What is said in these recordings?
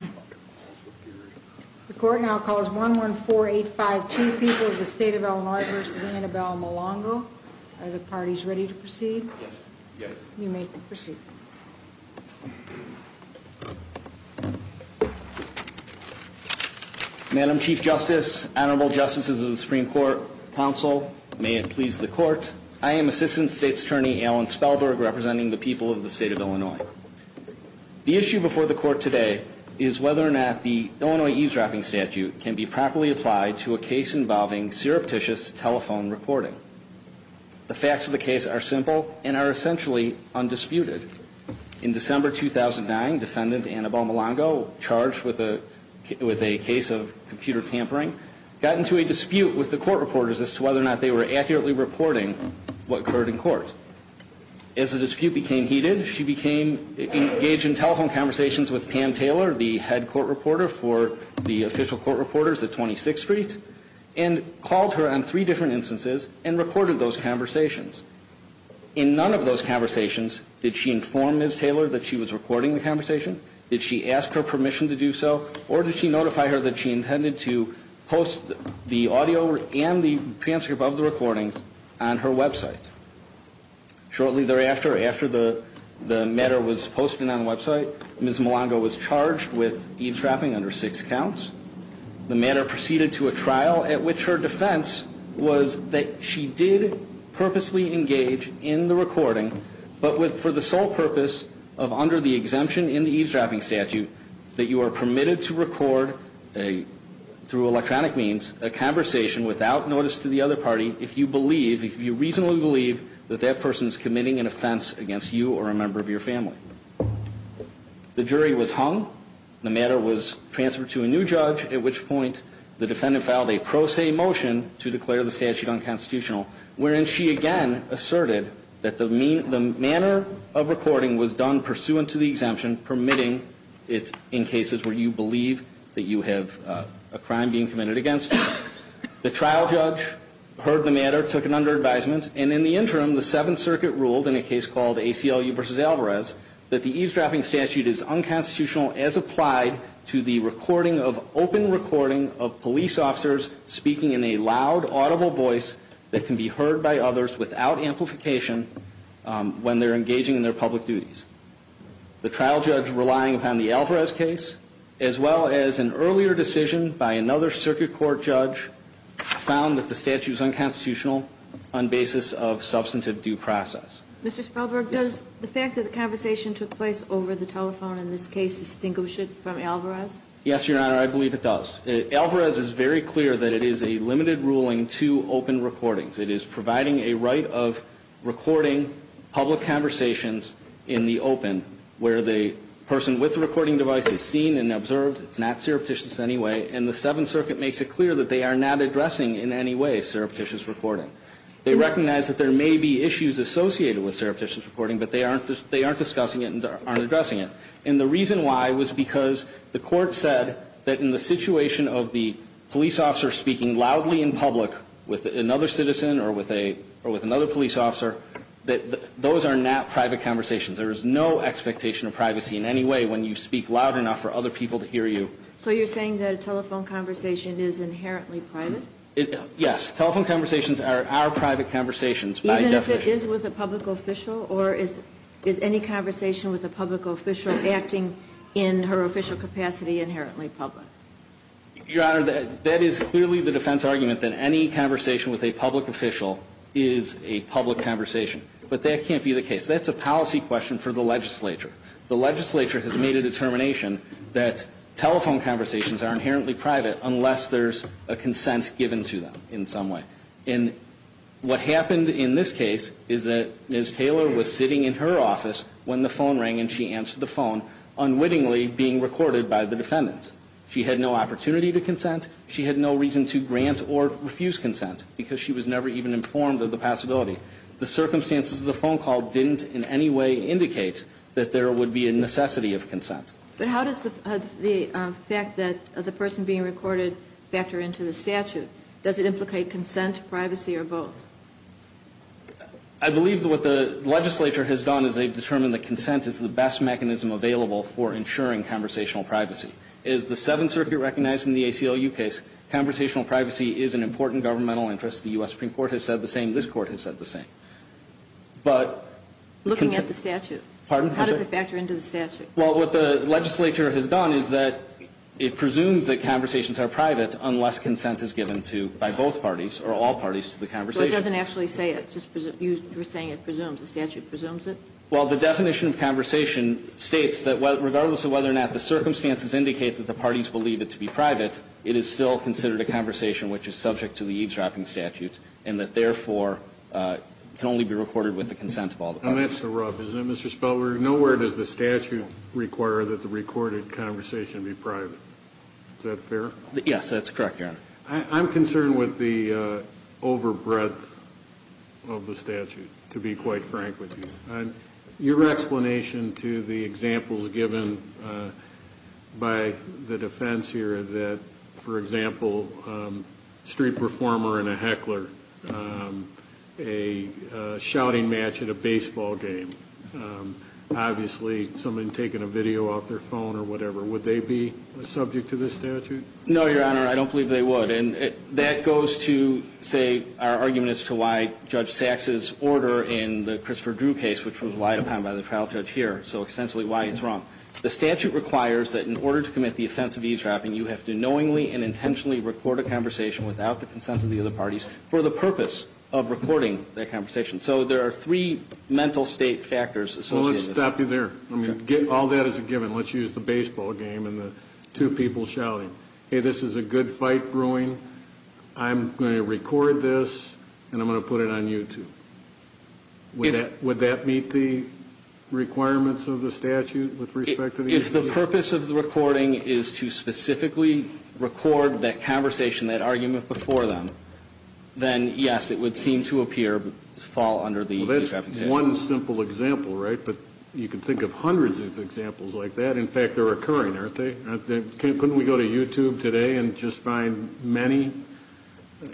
The court now calls 114852 People of the State of Illinois v. Annabel Melongo. Are the parties ready to proceed? Yes. You may proceed. Madam Chief Justice, Honorable Justices of the Supreme Court, Counsel, may it please the Court, I am Assistant State's Attorney Alan Spellberg, representing the people of the State of Illinois. The issue before the Court today is whether or not the Illinois eavesdropping statute can be properly applied to a case involving surreptitious telephone recording. The facts of the case are simple and are essentially undisputed. In December 2009, Defendant Annabel Melongo, charged with a case of computer tampering, got into a dispute with the court reporters as to whether or not they were accurately reporting what occurred in court. As the dispute became heated, she became engaged in telephone conversations with Pam Taylor, the head court reporter for the official court reporters at 26th Street, and called her on three different instances and recorded those conversations. In none of those conversations did she inform Ms. Taylor that she was recording the conversation, did she ask her permission to do so, or did she notify her that she intended to post the audio and the transcript of the recordings on her website. Shortly thereafter, after the matter was posted on the website, Ms. Melongo was charged with eavesdropping under six counts. The matter proceeded to a trial at which her defense was that she did purposely engage in the recording, but for the sole purpose of, under the exemption in the eavesdropping statute, that you are permitted to record, through electronic means, a conversation without notice to the other party if you believe, if you reasonably believe, that that person is committing an offense against you or a member of your family. The jury was hung. The matter was transferred to a new judge, at which point the defendant filed a pro se motion to declare the statute unconstitutional, wherein she again asserted that the manner of recording was done pursuant to the exemption, permitting it in cases where you believe that you have a crime being committed against you. The trial judge heard the matter, took it under advisement, and in the interim the Seventh Circuit ruled in a case called ACLU v. Alvarez that the eavesdropping statute is unconstitutional as applied to the recording of open recording of police officers speaking in a loud, audible voice that can be heard by others without amplification when they're engaging in their public duties. The trial judge, relying upon the Alvarez case, as well as an earlier decision by another Circuit Court judge, found that the statute is unconstitutional on basis of substantive due process. Mr. Spelberg, does the fact that the conversation took place over the telephone in this case distinguish it from Alvarez? Yes, Your Honor, I believe it does. Alvarez is very clear that it is a limited ruling to open recordings. It is providing a right of recording public conversations in the open where the person with the recording device is seen and observed. It's not surreptitious in any way, and the Seventh Circuit makes it clear that they are not addressing in any way surreptitious recording. They recognize that there may be issues associated with surreptitious recording, but they aren't discussing it and aren't addressing it. And the reason why was because the Court said that in the situation of the police officer speaking loudly in public with another citizen or with another police officer, that those are not private conversations. There is no expectation of privacy in any way when you speak loud enough for other people to hear you. So you're saying that a telephone conversation is inherently private? Yes. Telephone conversations are private conversations by definition. Even if it is with a public official? Or is any conversation with a public official acting in her official capacity inherently public? Your Honor, that is clearly the defense argument that any conversation with a public official is a public conversation. But that can't be the case. That's a policy question for the legislature. The legislature has made a determination that telephone conversations are inherently private unless there's a consent given to them in some way. And what happened in this case is that Ms. Taylor was sitting in her office when the phone rang and she answered the phone, unwittingly being recorded by the defendant. She had no opportunity to consent. She had no reason to grant or refuse consent because she was never even informed of the possibility. The circumstances of the phone call didn't in any way indicate that there would be a necessity of consent. But how does the fact that the person being recorded factor into the statute? Does it implicate consent, privacy, or both? I believe what the legislature has done is they've determined that consent is the best mechanism available for ensuring conversational privacy. As the Seventh Circuit recognized in the ACLU case, conversational privacy is an important governmental interest. The U.S. Supreme Court has said the same. This Court has said the same. But the consent ---- Looking at the statute. Pardon? How does it factor into the statute? Well, what the legislature has done is that it presumes that conversations are private unless consent is given to by both parties or all parties to the conversation. Well, it doesn't actually say it. You were saying it presumes. The statute presumes it? Well, the definition of conversation states that regardless of whether or not the circumstances indicate that the parties believe it to be private, it is still considered a conversation which is subject to the eavesdropping statute and that therefore can only be recorded with the consent of all the parties. And that's the rub. Isn't it, Mr. Spelman? Nowhere does the statute require that the recorded conversation be private. Is that fair? Yes, that's correct, Your Honor. I'm concerned with the overbreadth of the statute, to be quite frank with you. Your explanation to the examples given by the defense here that, for example, street performer and a heckler, a shouting match at a baseball game, obviously someone taking a video off their phone or whatever, would they be subject to this statute? No, Your Honor. I don't believe they would. And that goes to, say, our argument as to why Judge Sachs's order in the Christopher Drew case, which was relied upon by the trial judge here, so extensively why it's wrong. The statute requires that in order to commit the offense of eavesdropping, you have to knowingly and intentionally record a conversation without the consent of the other parties for the purpose of recording that conversation. So there are three mental state factors associated with it. Well, let's stop you there. All that is a given. Let's use the baseball game and the two people shouting. I'm going to record this and I'm going to put it on YouTube. Would that meet the requirements of the statute with respect to the eavesdropping? If the purpose of the recording is to specifically record that conversation, that argument before them, then, yes, it would seem to appear to fall under the eavesdropping statute. Well, that's one simple example, right? But you can think of hundreds of examples like that. In fact, they're occurring, aren't they? Couldn't we go to YouTube today and just find many?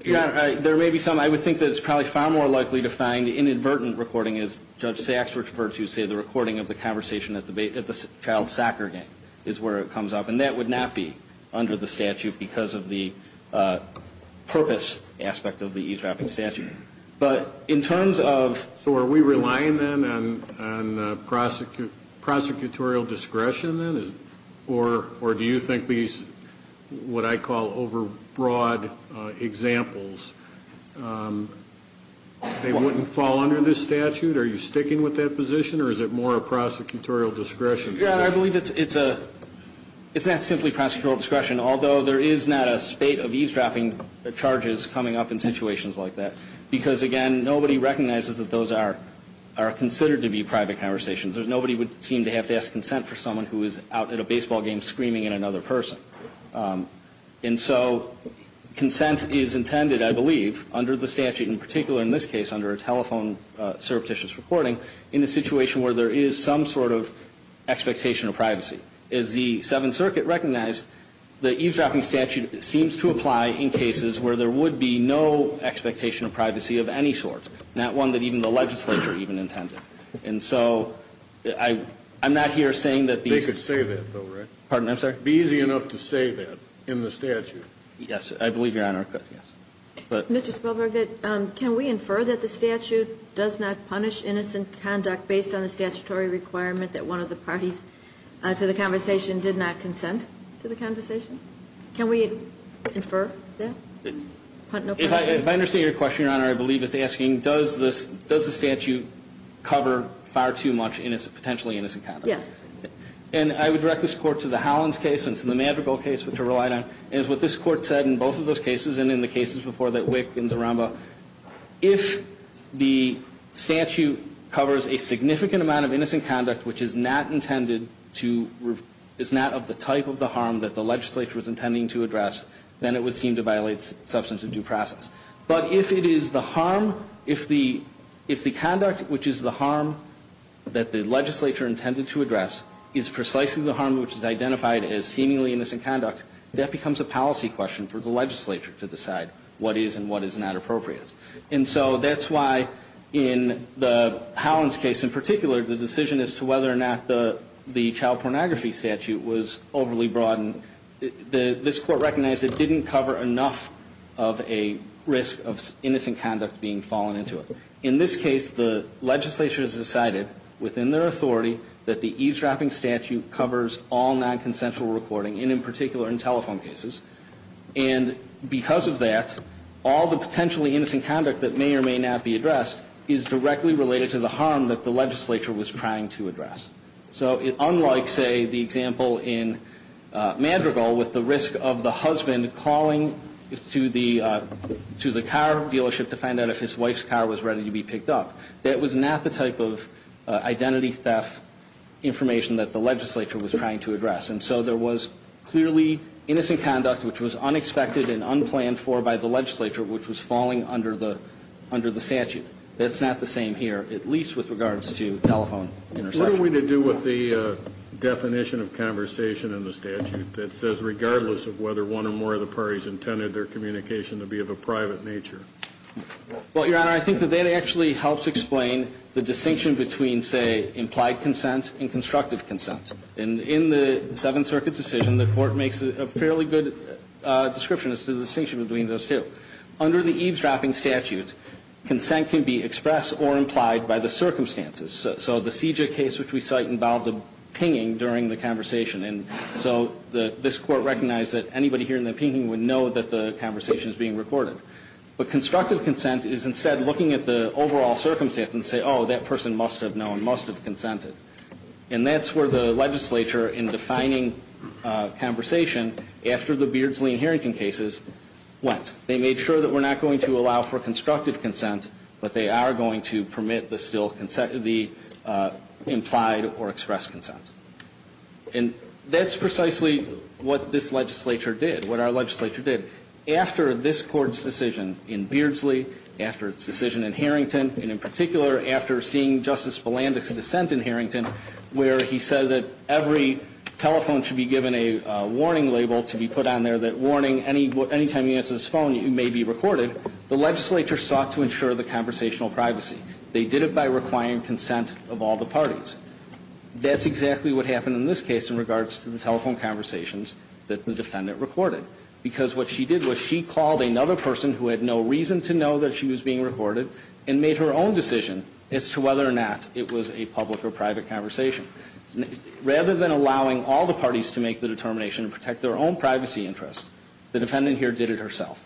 Yeah, there may be some. I would think that it's probably far more likely to find inadvertent recording, as Judge Sachs referred to, say, the recording of the conversation at the child's soccer game is where it comes up. And that would not be under the statute because of the purpose aspect of the eavesdropping statute. But in terms of... So are we relying, then, on prosecutorial discretion, then? Or do you think these, what I call over-broad examples, they wouldn't fall under this statute? Are you sticking with that position, or is it more a prosecutorial discretion? Yeah, I believe it's not simply prosecutorial discretion, although there is not a spate of eavesdropping charges coming up in situations like that. Because, again, nobody recognizes that those are considered to be private conversations. Nobody would seem to have to ask consent for someone who is out at a baseball game screaming at another person. And so consent is intended, I believe, under the statute, in particular in this case under a telephone surreptitious recording, in a situation where there is some sort of expectation of privacy. As the Seventh Circuit recognized, the eavesdropping statute seems to apply in cases where there would be no expectation of privacy of any sort, not one that even the legislature even intended. And so I'm not here saying that these... They could say that, though, right? Pardon, I'm sorry? Be easy enough to say that in the statute. Yes, I believe Your Honor could, yes. Mr. Spilberg, can we infer that the statute does not punish innocent conduct based on the statutory requirement that one of the parties to the conversation did not consent to the conversation? Can we infer that? If I understand your question, Your Honor, I believe it's asking, does the statute cover far too much potentially innocent conduct? Yes. And I would direct this Court to the Howland case and to the Madrigal case, which I relied on, and what this Court said in both of those cases, and in the cases before that, Wick and DeRambo, if the statute covers a significant amount of innocent conduct, which is not intended to... is not of the type of the harm that the legislature was intending to address, then it would seem to violate substance of due process. But if it is the harm, if the conduct, which is the harm that the legislature intended to address, is precisely the harm which is identified as seemingly innocent conduct, that becomes a policy question for the legislature to decide what is and what is not appropriate. And so that's why in the Howland's case in particular, the decision as to whether or not the child pornography statute was overly broad this Court recognized it didn't cover enough of a risk of innocent conduct being fallen into it. In this case, the legislature has decided within their authority that the eavesdropping statute covers all nonconsensual recording, and in particular in telephone cases. And because of that, all the potentially innocent conduct that may or may not be addressed is directly related to the harm that the legislature was trying to address. So unlike, say, the example in Madrigal, with the risk of the husband calling to the car dealership to find out if his wife's car was ready to be picked up, that was not the type of identity theft information that the legislature was trying to address. And so there was clearly innocent conduct, which was unexpected and unplanned for by the legislature, which was falling under the statute. That's not the same here, at least with regards to telephone interception. What are we to do with the definition of conversation in the statute that says regardless of whether one or more of the parties intended their communication to be of a private nature? Well, Your Honor, I think that that actually helps explain the distinction between, say, implied consent and constructive consent. And in the Seventh Circuit decision, the Court makes a fairly good description as to the distinction between those two. Under the eavesdropping statute, consent can be expressed or implied by the circumstances. So the Seja case, which we cite, involved a pinging during the conversation. And so this Court recognized that anybody hearing the pinging would know that the conversation is being recorded. But constructive consent is instead looking at the overall circumstance and say, oh, that person must have known, must have consented. And that's where the legislature, in defining conversation, after the Beardsley and Harrington cases, went. They made sure that we're not going to allow for constructive consent, but they are going to permit the still consent, the implied or expressed consent. And that's precisely what this legislature did, what our legislature did. After this Court's decision in Beardsley, after its decision in Harrington, and in particular after seeing Justice Belandick's dissent in Harrington, where he said that every telephone should be given a warning label to be put on there that warning, any time you answer this phone, you may be recorded, the legislature sought to ensure the conversational privacy. They did it by requiring consent of all the parties. That's exactly what happened in this case in regards to the telephone conversations that the defendant recorded, because what she did was she called another person who had no reason to know that she was being recorded and made her own decision as to whether or not it was a public or private conversation. Rather than allowing all the parties to make the determination to protect their own privacy interests, the defendant here did it herself.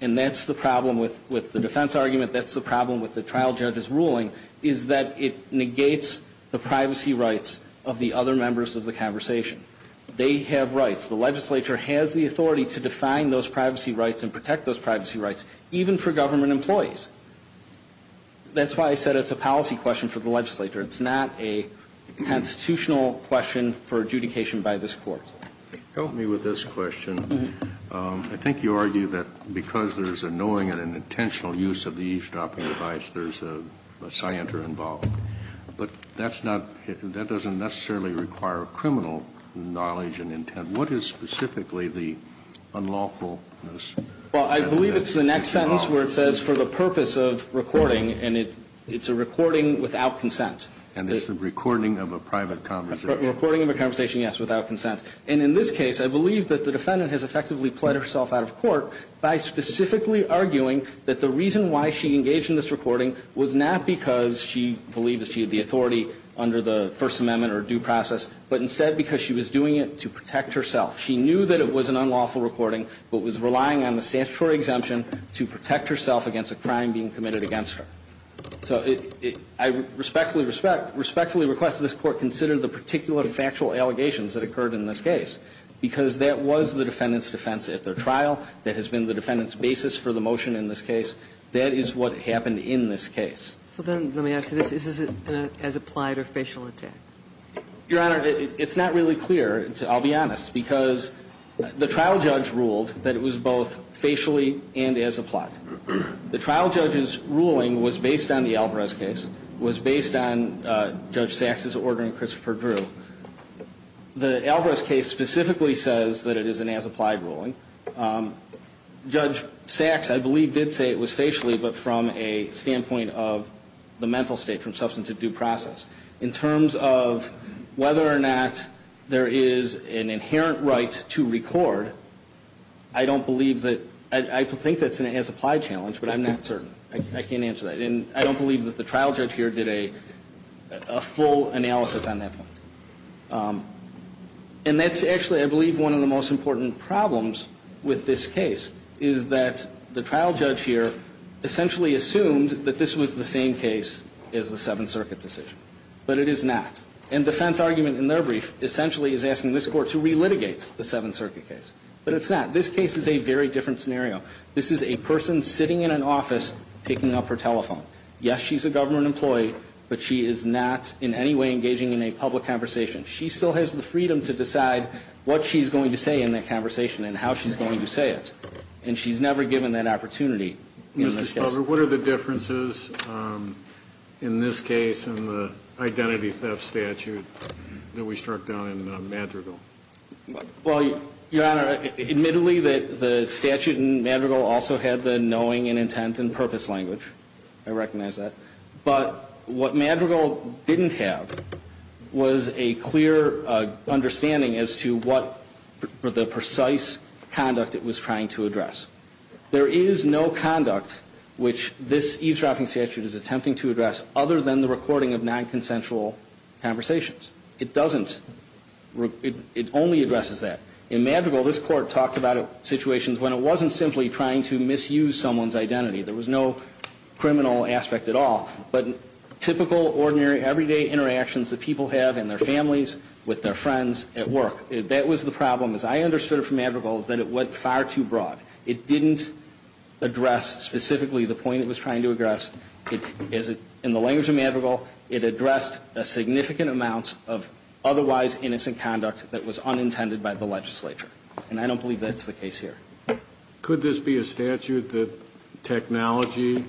And that's the problem with the defense argument, that's the problem with the trial judge's ruling, is that it negates the privacy rights of the other members of the conversation. They have rights. The legislature has the authority to define those privacy rights and protect those privacy rights, even for government employees. That's why I said it's a policy question for the legislature. It's not a constitutional question for adjudication by this Court. Help me with this question. I think you argue that because there's a knowing and an intentional use of the eavesdropping device, there's a scienter involved. But that's not, that doesn't necessarily require criminal knowledge and intent. What is specifically the unlawfulness? Well, I believe it's the next sentence where it says, for the purpose of recording, and it's a recording without consent. And it's the recording of a private conversation. A recording of a conversation, yes, without consent. And in this case, I believe that the defendant has effectively pled herself out of court by specifically arguing that the reason why she engaged in this recording was not because she believed that she had the authority under the First Amendment or due process, but instead because she was doing it to protect herself. She knew that it was an unlawful recording, but was relying on the statutory exemption to protect herself against a crime being committed against her. So I respectfully request that this Court consider the particular factual allegations that occurred in this case, because that was the defendant's defense at their trial. That has been the defendant's basis for the motion in this case. That is what happened in this case. So then let me ask you this. Is this an as-applied or facial attack? Your Honor, it's not really clear. I'll be honest. Because the trial judge ruled that it was both facially and as-applied. The trial judge's ruling was based on the Alvarez case, was based on Judge Sachs' order in Christopher Drew. The Alvarez case specifically says that it is an as-applied ruling. Judge Sachs, I believe, did say it was facially, but from a standpoint of the mental state, from substantive due process. In terms of whether or not there is an inherent right to record, I don't believe that. I think that's an as-applied challenge, but I'm not certain. I can't answer that. And I don't believe that the trial judge here did a full analysis on that point. And that's actually, I believe, one of the most important problems with this case, is that the trial judge here essentially assumed that this was the same case as the Seventh Circuit decision. But it is not. And defense argument in their brief essentially is asking this Court to relitigate the Seventh Circuit case. But it's not. This case is a very different scenario. This is a person sitting in an office picking up her telephone. Yes, she's a government employee, but she is not in any way engaging in a public conversation. She still has the freedom to decide what she's going to say in that conversation and how she's going to say it. And she's never given that opportunity in this case. Robert, what are the differences in this case in the identity theft statute that we struck down in Madrigal? Well, Your Honor, admittedly, the statute in Madrigal also had the knowing and intent and purpose language. I recognize that. But what Madrigal didn't have was a clear understanding as to what the precise conduct it was trying to address. There is no conduct which this eavesdropping statute is attempting to address other than the recording of nonconsensual conversations. It doesn't. It only addresses that. In Madrigal, this Court talked about situations when it wasn't simply trying to misuse someone's identity. There was no criminal aspect at all. But typical, ordinary, everyday interactions that people have in their families, with their friends, at work, that was the problem. As I understood it from Madrigal is that it went far too broad. It didn't address specifically the point it was trying to address. In the language of Madrigal, it addressed a significant amount of otherwise innocent conduct that was unintended by the legislature. And I don't believe that's the case here. Could this be a statute that technology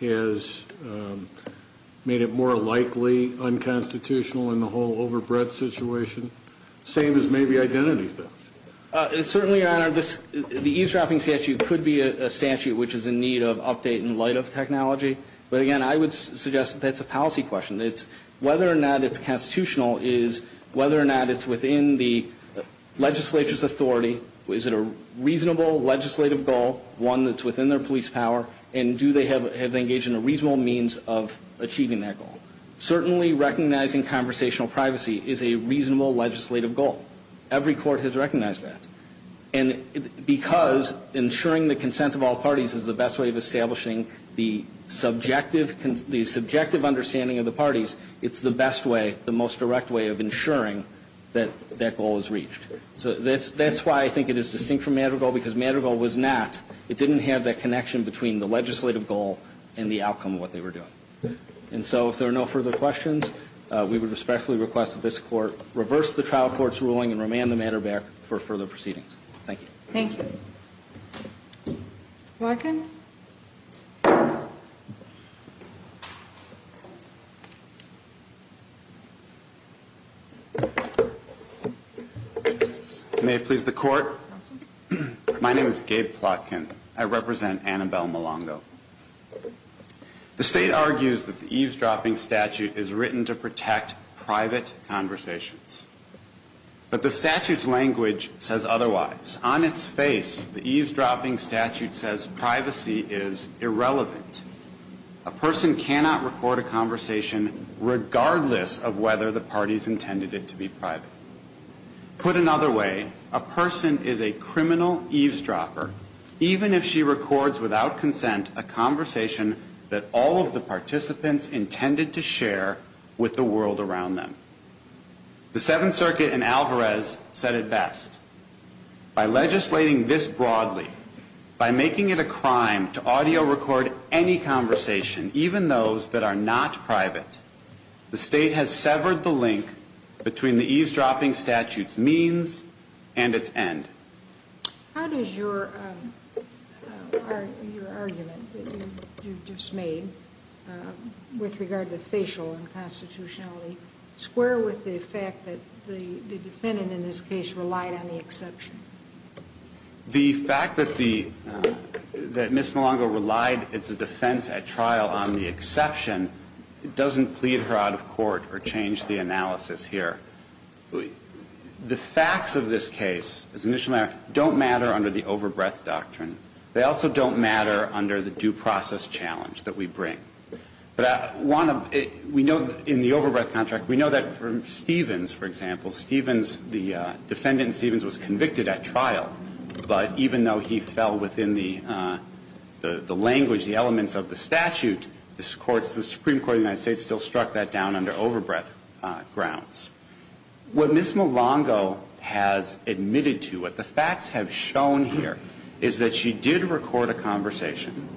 has made it more likely unconstitutional in the whole overbreadth situation, same as maybe identity theft? Certainly, Your Honor. The eavesdropping statute could be a statute which is in need of update in light of technology. But again, I would suggest that that's a policy question. Whether or not it's constitutional is whether or not it's within the legislature's authority, is it a reasonable legislative goal, one that's within their police power, and do they have engaged in a reasonable means of achieving that goal. Certainly recognizing conversational privacy is a reasonable legislative goal. Every court has recognized that. And because ensuring the consent of all parties is the best way of establishing the subjective understanding of the parties, it's the best way, the most direct way of ensuring that that goal is reached. So that's why I think it is distinct from Madrigal because Madrigal was not, it didn't have that connection between the legislative goal and the outcome of what they were doing. And so if there are no further questions, we would respectfully request that this We will be going and remand the matter back for further proceedings. Thank you. Thank you. Plotkin? May it please the Court. My name is Gabe Plotkin. I represent Annabelle Milongo. The State argues that the eavesdropping statute is written to protect private conversations. But the statute's language says otherwise. On its face, the eavesdropping statute says privacy is irrelevant. A person cannot record a conversation regardless of whether the party has intended it to be private. Put another way, a person is a criminal eavesdropper, even if she records without consent a conversation that all of the participants intended to share with the world around them. The Seventh Circuit in Alvarez said it best. By legislating this broadly, by making it a crime to audio record any conversation, even those that are not private, the State has severed the link between the eavesdropping statute's means and its end. How does your argument that you just made with regard to facial unconstitutionality square with the fact that the defendant in this case relied on the exception? The fact that Ms. Milongo relied as a defense at trial on the exception doesn't plead her out of court or change the analysis here. The facts of this case, as an initial matter, don't matter under the overbreath doctrine. They also don't matter under the due process challenge that we bring. But we know in the overbreath contract, we know that for Stevens, for example, the defendant in Stevens was convicted at trial. But even though he fell within the language, the elements of the statute, the Supreme Court of the United States still struck that down under overbreath grounds. What Ms. Milongo has admitted to, what the facts have shown here, is that she did record a conversation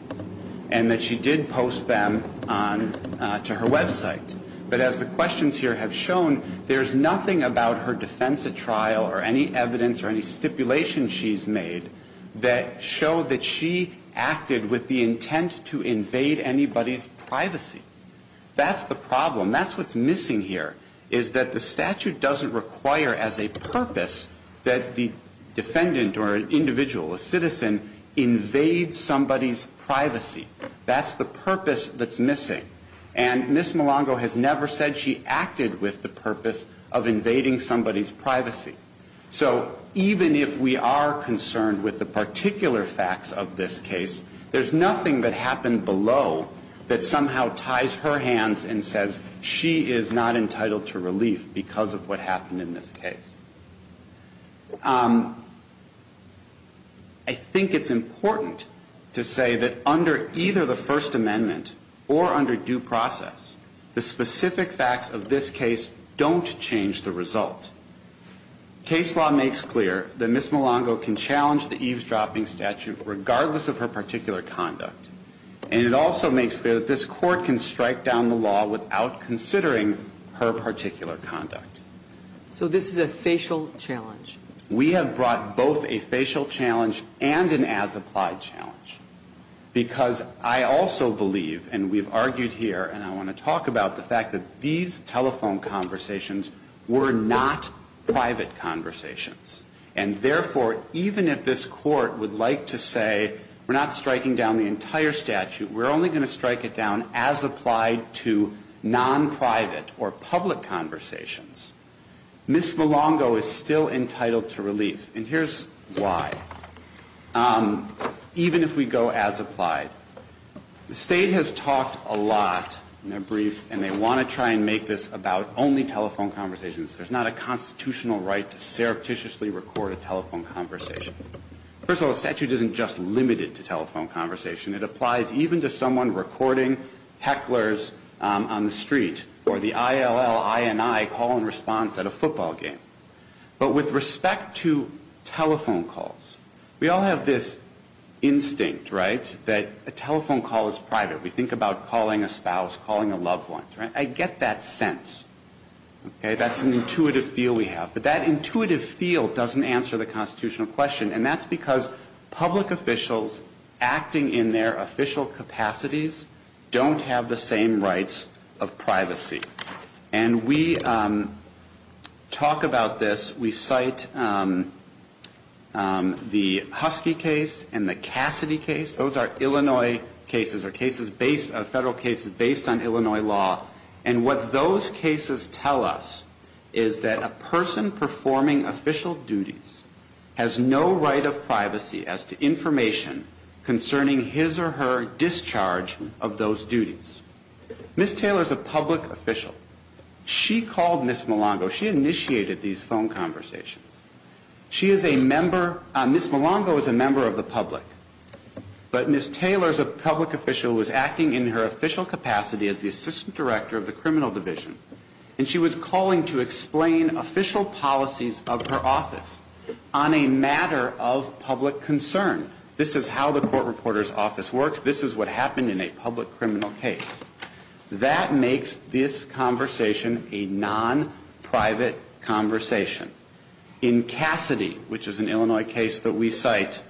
and that she did post them to her website. But as the questions here have shown, there's nothing about her defense at trial or any evidence or any stipulation she's made that show that she acted with the intent to invade anybody's privacy. That's the problem. That's what's missing here, is that the statute doesn't require as a purpose that the defendant or an individual, a citizen, invades somebody's privacy. That's the purpose that's missing. And Ms. Milongo has never said she acted with the purpose of invading somebody's privacy. So even if we are concerned with the particular facts of this case, there's nothing that happened below that somehow ties her hands and says she is not entitled to relief because of what happened in this case. I think it's important to say that under either the First Amendment or under due process, the specific facts of this case don't change the result. Case law makes clear that Ms. Milongo can challenge the eavesdropping statute regardless of her particular conduct. And it also makes clear that this Court can strike down the law without considering her particular conduct. So this is a facial challenge. We have brought both a facial challenge and an as-applied challenge because I also believe, and we've argued here and I want to talk about the fact that these telephone conversations were not private conversations. And therefore, even if this Court would like to say we're not striking down the entire statute, we're only going to strike it down as applied to non-private or public conversations, Ms. Milongo is still entitled to relief. And here's why. Even if we go as applied, the State has talked a lot in their brief, and they want to try and make this about only telephone conversations. There's not a constitutional right to surreptitiously record a telephone conversation. First of all, the statute isn't just limited to telephone conversation. It applies even to someone recording hecklers on the street or the ILL, INI call and response at a football game. But with respect to telephone calls, we all have this instinct, right, that a telephone call is private. We think about calling a spouse, calling a loved one. I get that sense. That's an intuitive feel we have. But that intuitive feel doesn't answer the constitutional question, and that's because public officials acting in their official capacities don't have the same rights of privacy. And we talk about this. We cite the Husky case and the Cassidy case. Those are Illinois cases or federal cases based on Illinois law. And what those cases tell us is that a person performing official duties has no right of privacy as to information concerning his or her discharge of those duties. Ms. Taylor is a public official. She called Ms. Milango. She initiated these phone conversations. She is a member. Ms. Milango is a member of the public. But Ms. Taylor is a public official who is acting in her official capacity as the assistant director of the criminal division, and she was calling to explain official policies of her office on a matter of public concern. This is how the court reporter's office works. This is what happened in a public criminal case. That makes this conversation a non-private conversation. In Cassidy, which is an Illinois case that we cite,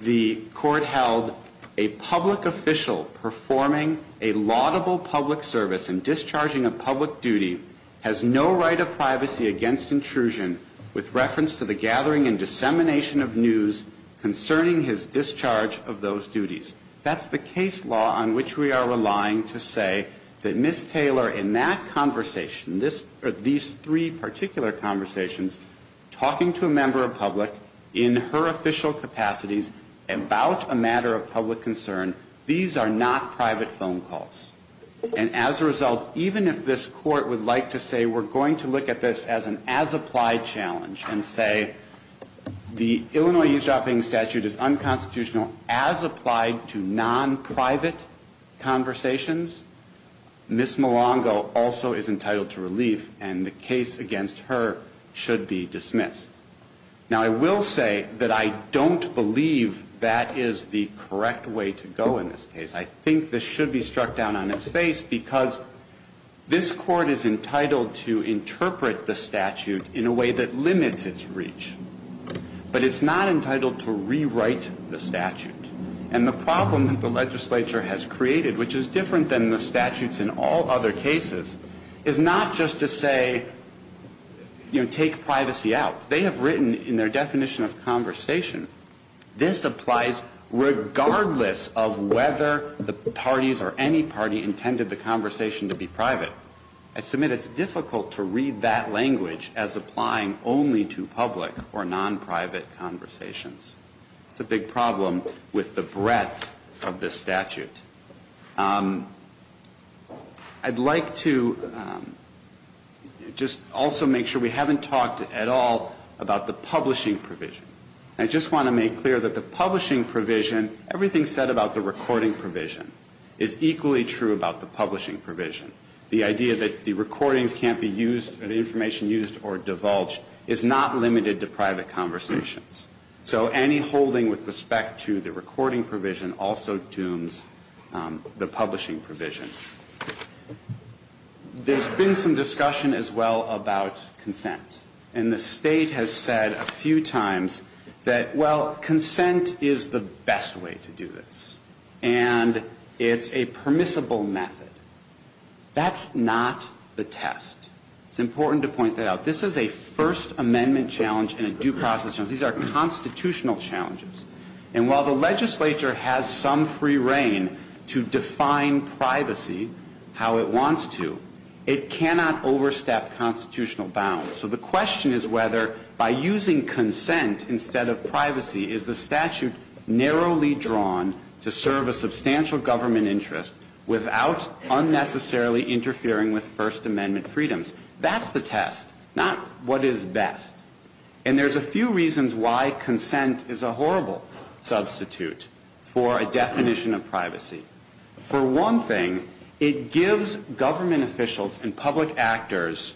the court held a public official performing a laudable public service and discharging a public duty has no right of privacy against intrusion with reference to the gathering and dissemination of news concerning his discharge of those duties. That's the case law on which we are relying to say that Ms. Taylor in that conversation, these three particular conversations, talking to a member of public in her official capacities about a matter of public concern, these are not private phone calls. And as a result, even if this court would like to say we're going to look at this as an as-applied challenge and say the Illinois eavesdropping statute is unconstitutional as applied to non-private conversations, Ms. Milango also is entitled to relief and the case against her should be dismissed. Now, I will say that I don't believe that is the correct way to go in this case. I think this should be struck down on its face because this court is entitled to interpret the statute in a way that limits its reach, but it's not entitled to rewrite the statute. And the problem that the legislature has created, which is different than the statutes in all other cases, is not just to say, you know, take privacy out. They have written in their definition of conversation, this applies regardless of whether the parties or any party intended the conversation to be private. I submit it's difficult to read that language as applying only to public or non-private conversations. It's a big problem with the breadth of this statute. I'd like to just also make sure we haven't talked at all about the publishing provision. I just want to make clear that the publishing provision, everything said about the recording provision, is equally true about the publishing provision. The idea that the recordings can't be used or the information used or divulged is not limited to private conversations. So any holding with respect to the recording provision also dooms the publishing provision. There's been some discussion as well about consent. And the State has said a few times that, well, consent is the best way to do this. And it's a permissible method. That's not the test. It's important to point that out. This is a First Amendment challenge and a due process challenge. These are constitutional challenges. And while the legislature has some free reign to define privacy how it wants to, it cannot overstep constitutional bounds. So the question is whether by using consent instead of privacy is the statute narrowly drawn to serve a substantial government interest without unnecessarily interfering with First Amendment freedoms. That's the test, not what is best. And there's a few reasons why consent is a horrible substitute for a definition of privacy. For one thing, it gives government officials and public actors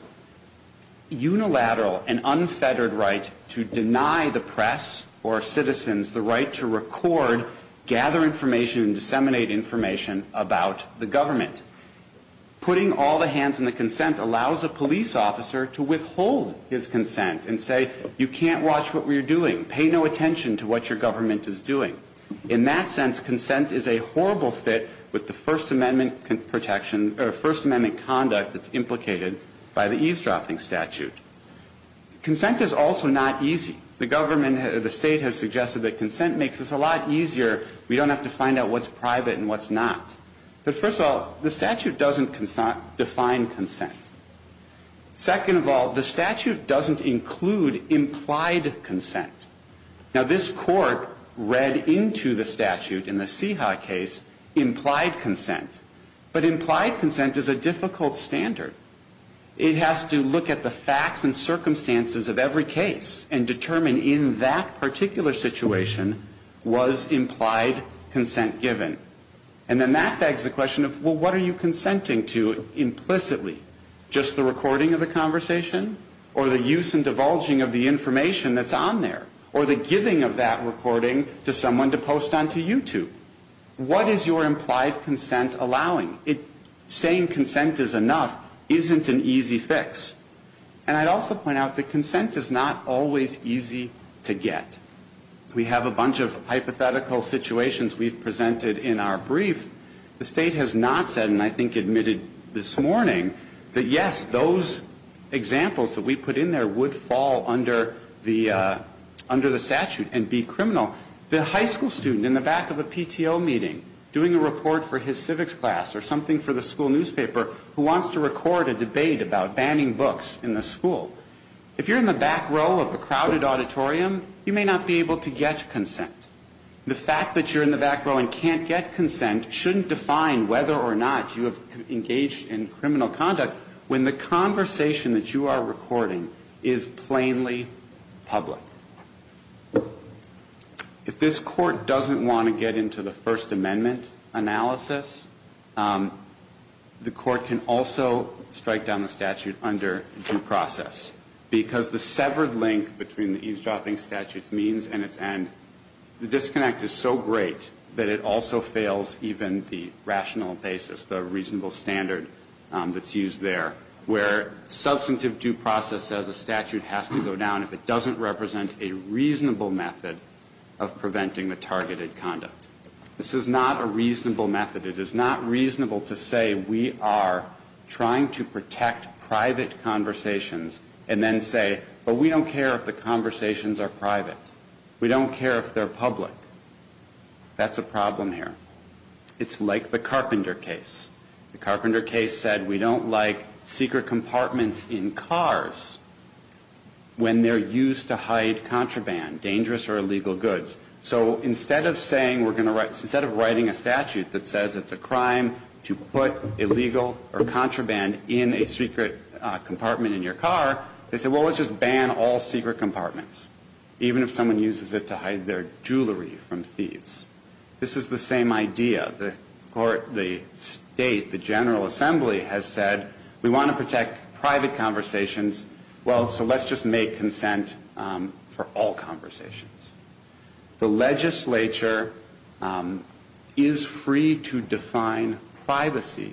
unilateral and unfettered right to deny the press or citizens the right to record, gather information and disseminate information about the government. Putting all the hands on the consent allows a police officer to withhold his consent and say, you can't watch what we're doing. Pay no attention to what your government is doing. In that sense, consent is a horrible fit with the First Amendment protection or First Amendment conduct that's implicated by the eavesdropping statute. Consent is also not easy. The government, the state has suggested that consent makes this a lot easier. We don't have to find out what's private and what's not. But first of all, the statute doesn't define consent. Second of all, the statute doesn't include implied consent. Now, this court read into the statute in the CIHA case implied consent. But implied consent is a difficult standard. It has to look at the facts and circumstances of every case and determine in that particular situation was implied consent given. And then that begs the question of, well, what are you consenting to implicitly? Just the recording of the conversation or the use and divulging of the information that's on there? Or the giving of that recording to someone to post onto YouTube? What is your implied consent allowing? Saying consent is enough isn't an easy fix. And I'd also point out that consent is not always easy to get. We have a bunch of hypothetical situations we've presented in our brief. The State has not said, and I think admitted this morning, that, yes, those examples that we put in there would fall under the statute and be criminal. The high school student in the back of a PTO meeting doing a report for his civics class or something for the school newspaper who wants to record a debate about banning books in the school. If you're in the back row of a crowded auditorium, you may not be able to get consent. The fact that you're in the back row and can't get consent shouldn't define whether or not you have engaged in criminal conduct when the conversation that you are recording is plainly public. If this Court doesn't want to get into the First Amendment analysis, the Court can also strike down the statute under due process, because the severed link between the eavesdropping statute's means and its end, the disconnect is so great that it also fails even the rational basis, the reasonable standard that's used there, where substantive due process as a statute has to go down if it doesn't represent a reasonable method of preventing the targeted conduct. This is not a reasonable method. It is not reasonable to say we are trying to protect private conversations and then say, but we don't care if the conversations are private. We don't care if they're public. That's a problem here. It's like the Carpenter case. The Carpenter case said we don't like secret compartments in cars when they're used to hide contraband, dangerous or illegal goods. So instead of saying we're going to write, instead of writing a statute that says it's a crime to put illegal or contraband in a secret compartment in your car, they say, well, let's just ban all secret compartments, even if someone uses it to hide their jewelry from thieves. This is the same idea. The Court, the State, the General Assembly has said we want to protect private conversations, well, so let's just make consent for all conversations. The legislature is free to define privacy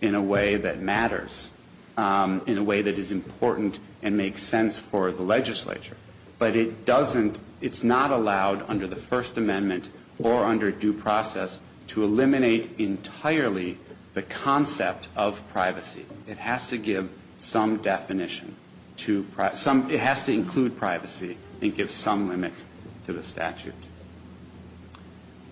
in a way that matters, in a way that is important to the public. It's important and makes sense for the legislature. But it doesn't, it's not allowed under the First Amendment or under due process to eliminate entirely the concept of privacy. It has to give some definition to, it has to include privacy and give some limit to the statute.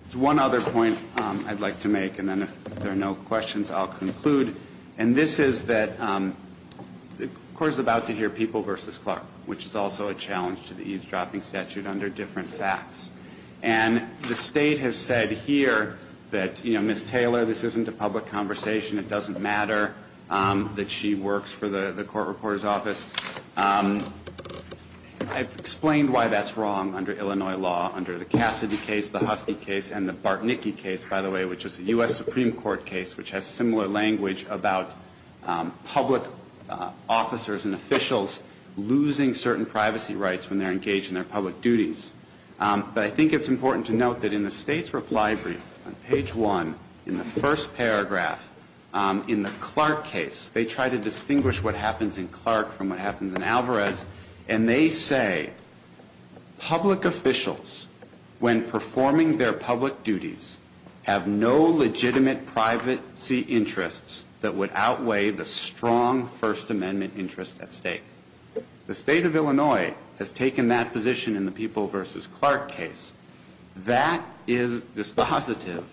There's one other point I'd like to make and then if there are no questions, I'll conclude. And this is that the Court is about to hear a People v. Clark, which is also a challenge to the eavesdropping statute under different facts. And the State has said here that, you know, Ms. Taylor, this isn't a public conversation. It doesn't matter that she works for the Court Reporter's Office. I've explained why that's wrong under Illinois law, under the Cassidy case, the Husky case, and the Bartnicki case, by the way, which is a U.S. Supreme Court case, which has similar language about public officers and officials losing certain privacy rights when they're engaged in their public duties. But I think it's important to note that in the State's reply brief on page one, in the first paragraph, in the Clark case, they try to distinguish what happens in Clark from what happens in Alvarez. And they say, public officials, when performing their public duties, have no legitimate privacy interests that would outweigh the strong First Amendment interest at stake. The State of Illinois has taken that position in the People v. Clark case. That is dispositive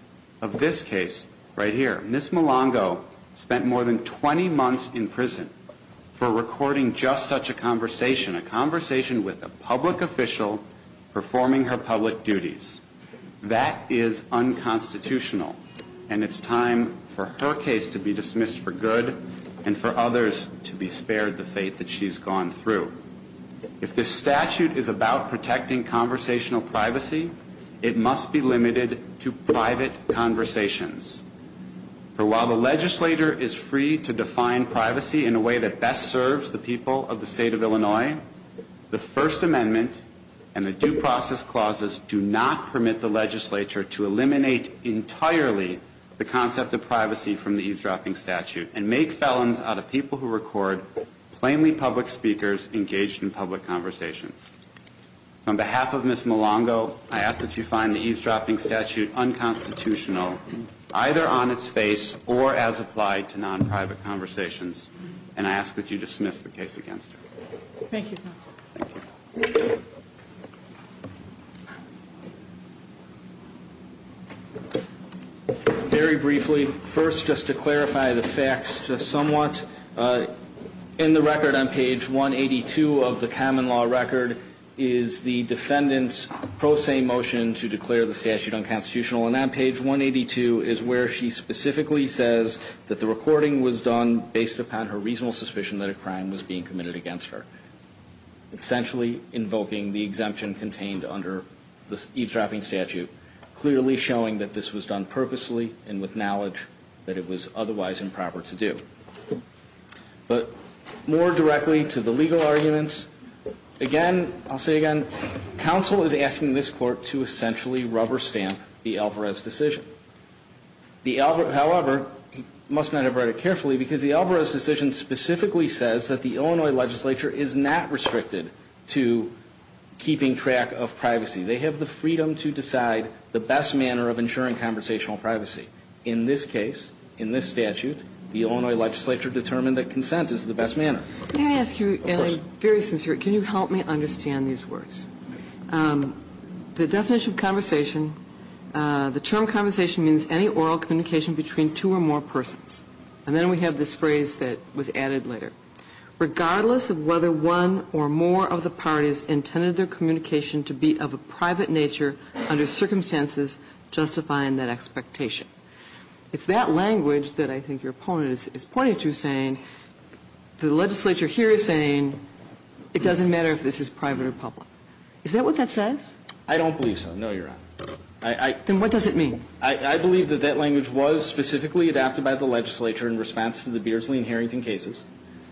of this case right here. Ms. Malongo spent more than 20 months in prison for recording just such a conversation, a conversation with a public official performing her public duties. That is unconstitutional. And it's time that we allow time for her case to be dismissed for good, and for others to be spared the fate that she's gone through. If this statute is about protecting conversational privacy, it must be limited to private conversations. For while the legislator is free to define privacy in a way that best serves the people of the State of Illinois, the First Amendment and the due process clauses do not permit the legislature to eliminate entirely the concept of privacy from the eavesdropping statute, and make felons out of people who record plainly public speakers engaged in public conversations. On behalf of Ms. Malongo, I ask that you find the eavesdropping statute unconstitutional, either on its face or as applied to non-private conversations. And I ask that you dismiss the case against her. Very briefly, first just to clarify the facts just somewhat, in the record on page 182 of the common law record is the defendant's pro se motion to declare the statute unconstitutional. And on page 182 is where she specifically says that the recording was done based upon her reasonable suspicion that a crime was being committed against her, essentially invoking the exemption contained under the eavesdropping statute, clearly showing that this was done purposely and with knowledge that it was otherwise improper to do. But more directly to the legal arguments, again, I'll say again, counsel is asking this Court to essentially rubber stamp the Alvarez decision. However, he must not have read it carefully, because the Alvarez decision specifically says that the Illinois legislature is not restricted to the freedom to decide the best manner of ensuring conversational privacy. In this case, in this statute, the Illinois legislature determined that consent is the best manner. Can I ask you, and I'm very sincere, can you help me understand these words? The definition of conversation, the term conversation means any oral communication between two or more persons. And then we have this phrase that was added later. Regardless of whether one or more of the parties intended their communication to be of a private nature under circumstances justifying that expectation. It's that language that I think your opponent is pointing to, saying the legislature here is saying it doesn't matter if this is private or public. Is that what that says? I don't believe so, no, Your Honor. Then what does it mean? I believe that that language was specifically adapted by the legislature in response to the Beardsley and Harrington cases.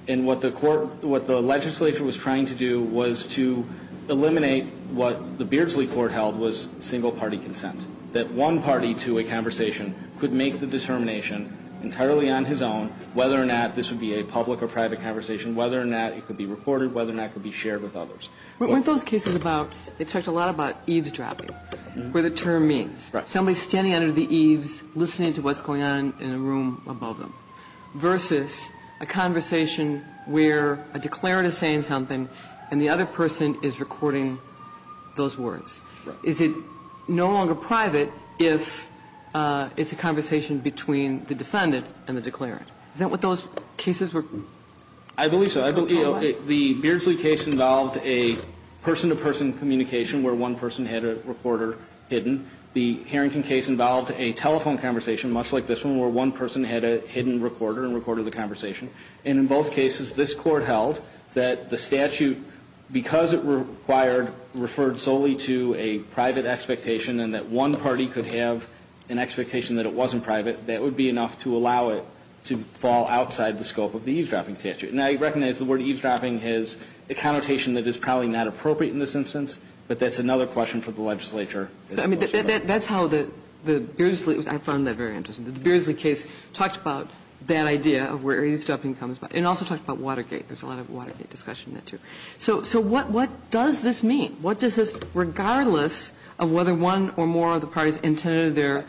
And what the court what the legislature was trying to do was to eliminate what the Beardsley court held was single-party consent. That one party to a conversation could make the determination entirely on his own whether or not this would be a public or private conversation, whether or not it could be recorded, whether or not it could be shared with others. Weren't those cases about, they talked a lot about eavesdropping, where the term means. Right. Somebody standing under the eaves listening to what's going on in a room above them, versus a conversation where a declarant is saying something and the other person is recording those words. Is it no longer private if it's a conversation between the defendant and the declarant? Is that what those cases were? I believe so. The Beardsley case involved a person-to-person communication where one person had a reporter hidden. The Harrington case involved a telephone conversation, much like this one, where one person had a hidden recorder and recorded the conversation. And in both cases, this Court held that the statute, because it required, referred solely to a private expectation and that one party could have an expectation that it wasn't private, that would be enough to allow it to fall outside the scope of the eavesdropping statute. And I recognize the word eavesdropping is a connotation that is probably not appropriate in this instance, but that's another question for the legislature. That's how the Beardsley, I found that very interesting. The Beardsley case talked about that idea of where eavesdropping comes from. It also talked about Watergate. There's a lot of Watergate discussion in that, too. So what does this mean? What does this, regardless of whether one or more of the parties intended their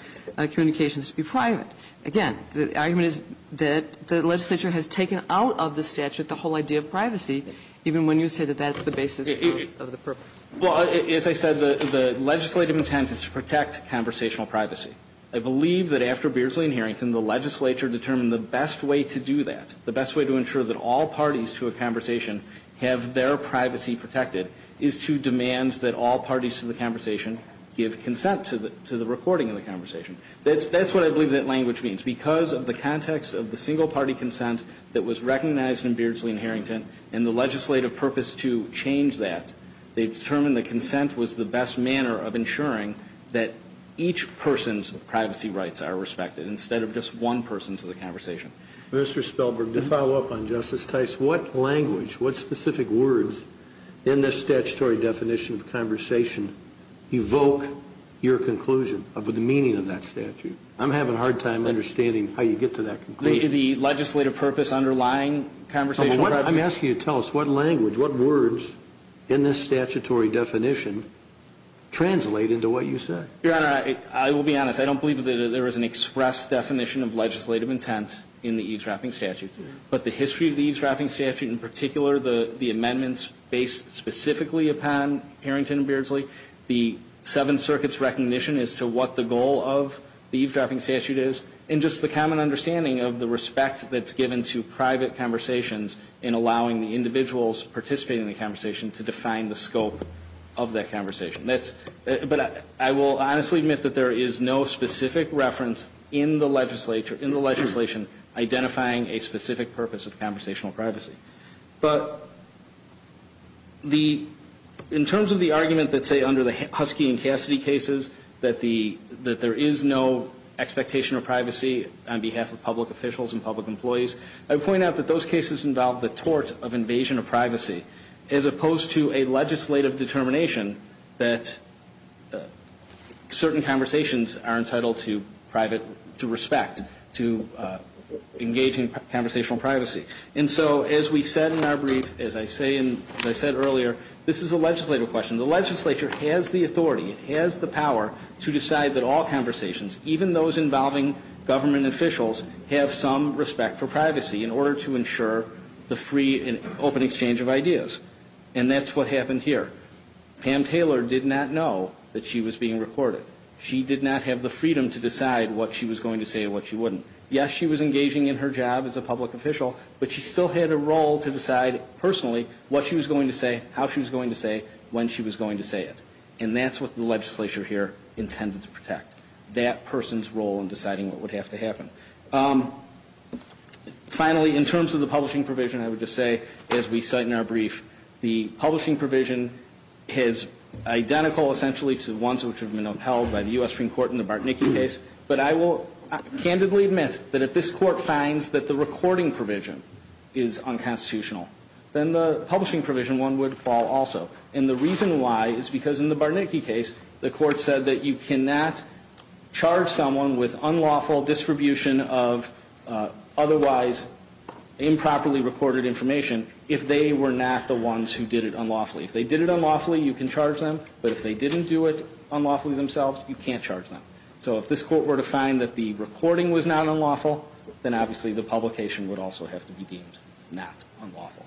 communications to be private? Again, the argument is that the legislature has taken out of the statute the whole idea of privacy, even when you say that that's the basis of the purpose. Well, as I said, the legislative intent is to protect conversational privacy. I believe that after Beardsley and Harrington, the legislature determined the best way to do that, the best way to ensure that all parties to a conversation have their privacy protected, is to demand that all parties to the conversation give consent to the recording of the conversation. That's what I believe that language means. Because of the context of the single-party consent that was recognized in Beardsley and Harrington and the legislative purpose to change that, they determined that consent was the best manner of ensuring that each person's privacy rights are respected instead of just one person to the conversation. Mr. Spelberg, to follow up on Justice Tice, what language, what specific words in this statutory definition translate into what you say? Your Honor, I will be honest. I don't believe that there is an express definition of legislative intent in the eavesdropping statute. But the history of the eavesdropping statute, in particular the amendments based specifically upon Harrington and Beardsley, definition as to what the goal of the eavesdropping statute is, and just the common understanding of the respect that's given to private conversations in allowing the individuals participating in the conversation to define the scope of that conversation. But I will honestly admit that there is no specific reference in the legislature, in the legislation, identifying a specific purpose of conversational privacy cases, that there is no expectation of privacy on behalf of public officials and public employees. I would point out that those cases involve the tort of invasion of privacy, as opposed to a legislative determination that certain conversations are entitled to respect, to engaging in conversational privacy. And so as we said in our brief, as I said earlier, this is a legislative question. The legislature has the authority, has the power to decide that all conversations, even those involving government officials, have some respect for privacy in order to ensure the free and open exchange of ideas. And that's what happened here. Pam Taylor did not know that she was being recorded. She did not have the freedom to decide what she was going to say and what she wouldn't. Yes, she was engaging in her job as a public official, but she still had a role to decide personally what she was going to say, how she was going to say, when she was going to say it. And that's what the legislature here intended to protect, that person's role in deciding what would have to happen. Finally, in terms of the publishing provision, I would just say, as we cite in our brief, the publishing provision is identical essentially to the ones which have been recorded in the Bartnicki case. But I will candidly admit that if this Court finds that the recording provision is unconstitutional, then the publishing provision one would fall also. And the reason why is because in the Bartnicki case, the Court said that you cannot charge someone with unlawful distribution of otherwise improperly recorded information if they were not the ones who did it unlawfully. If they did it unlawfully, you can charge them. But if they didn't do it unlawfully themselves, you can't charge them. So if this Court were to find that the recording was not unlawful, then obviously the publication would also have to be deemed not unlawful.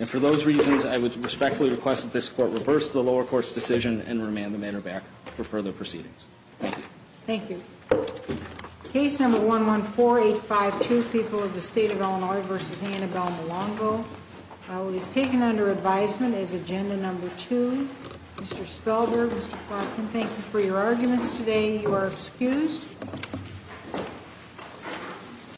And for those reasons, I would respectfully request that this Court reverse the lower court's decision and remand the matter back for further proceedings. Thank you. Case number 114852, People of the State of Illinois v. Annabelle Milongo. It is taken under advisement as agenda number two. Mr. Spellberg, Mr. Plotkin, thank you for your arguments today. You are excused.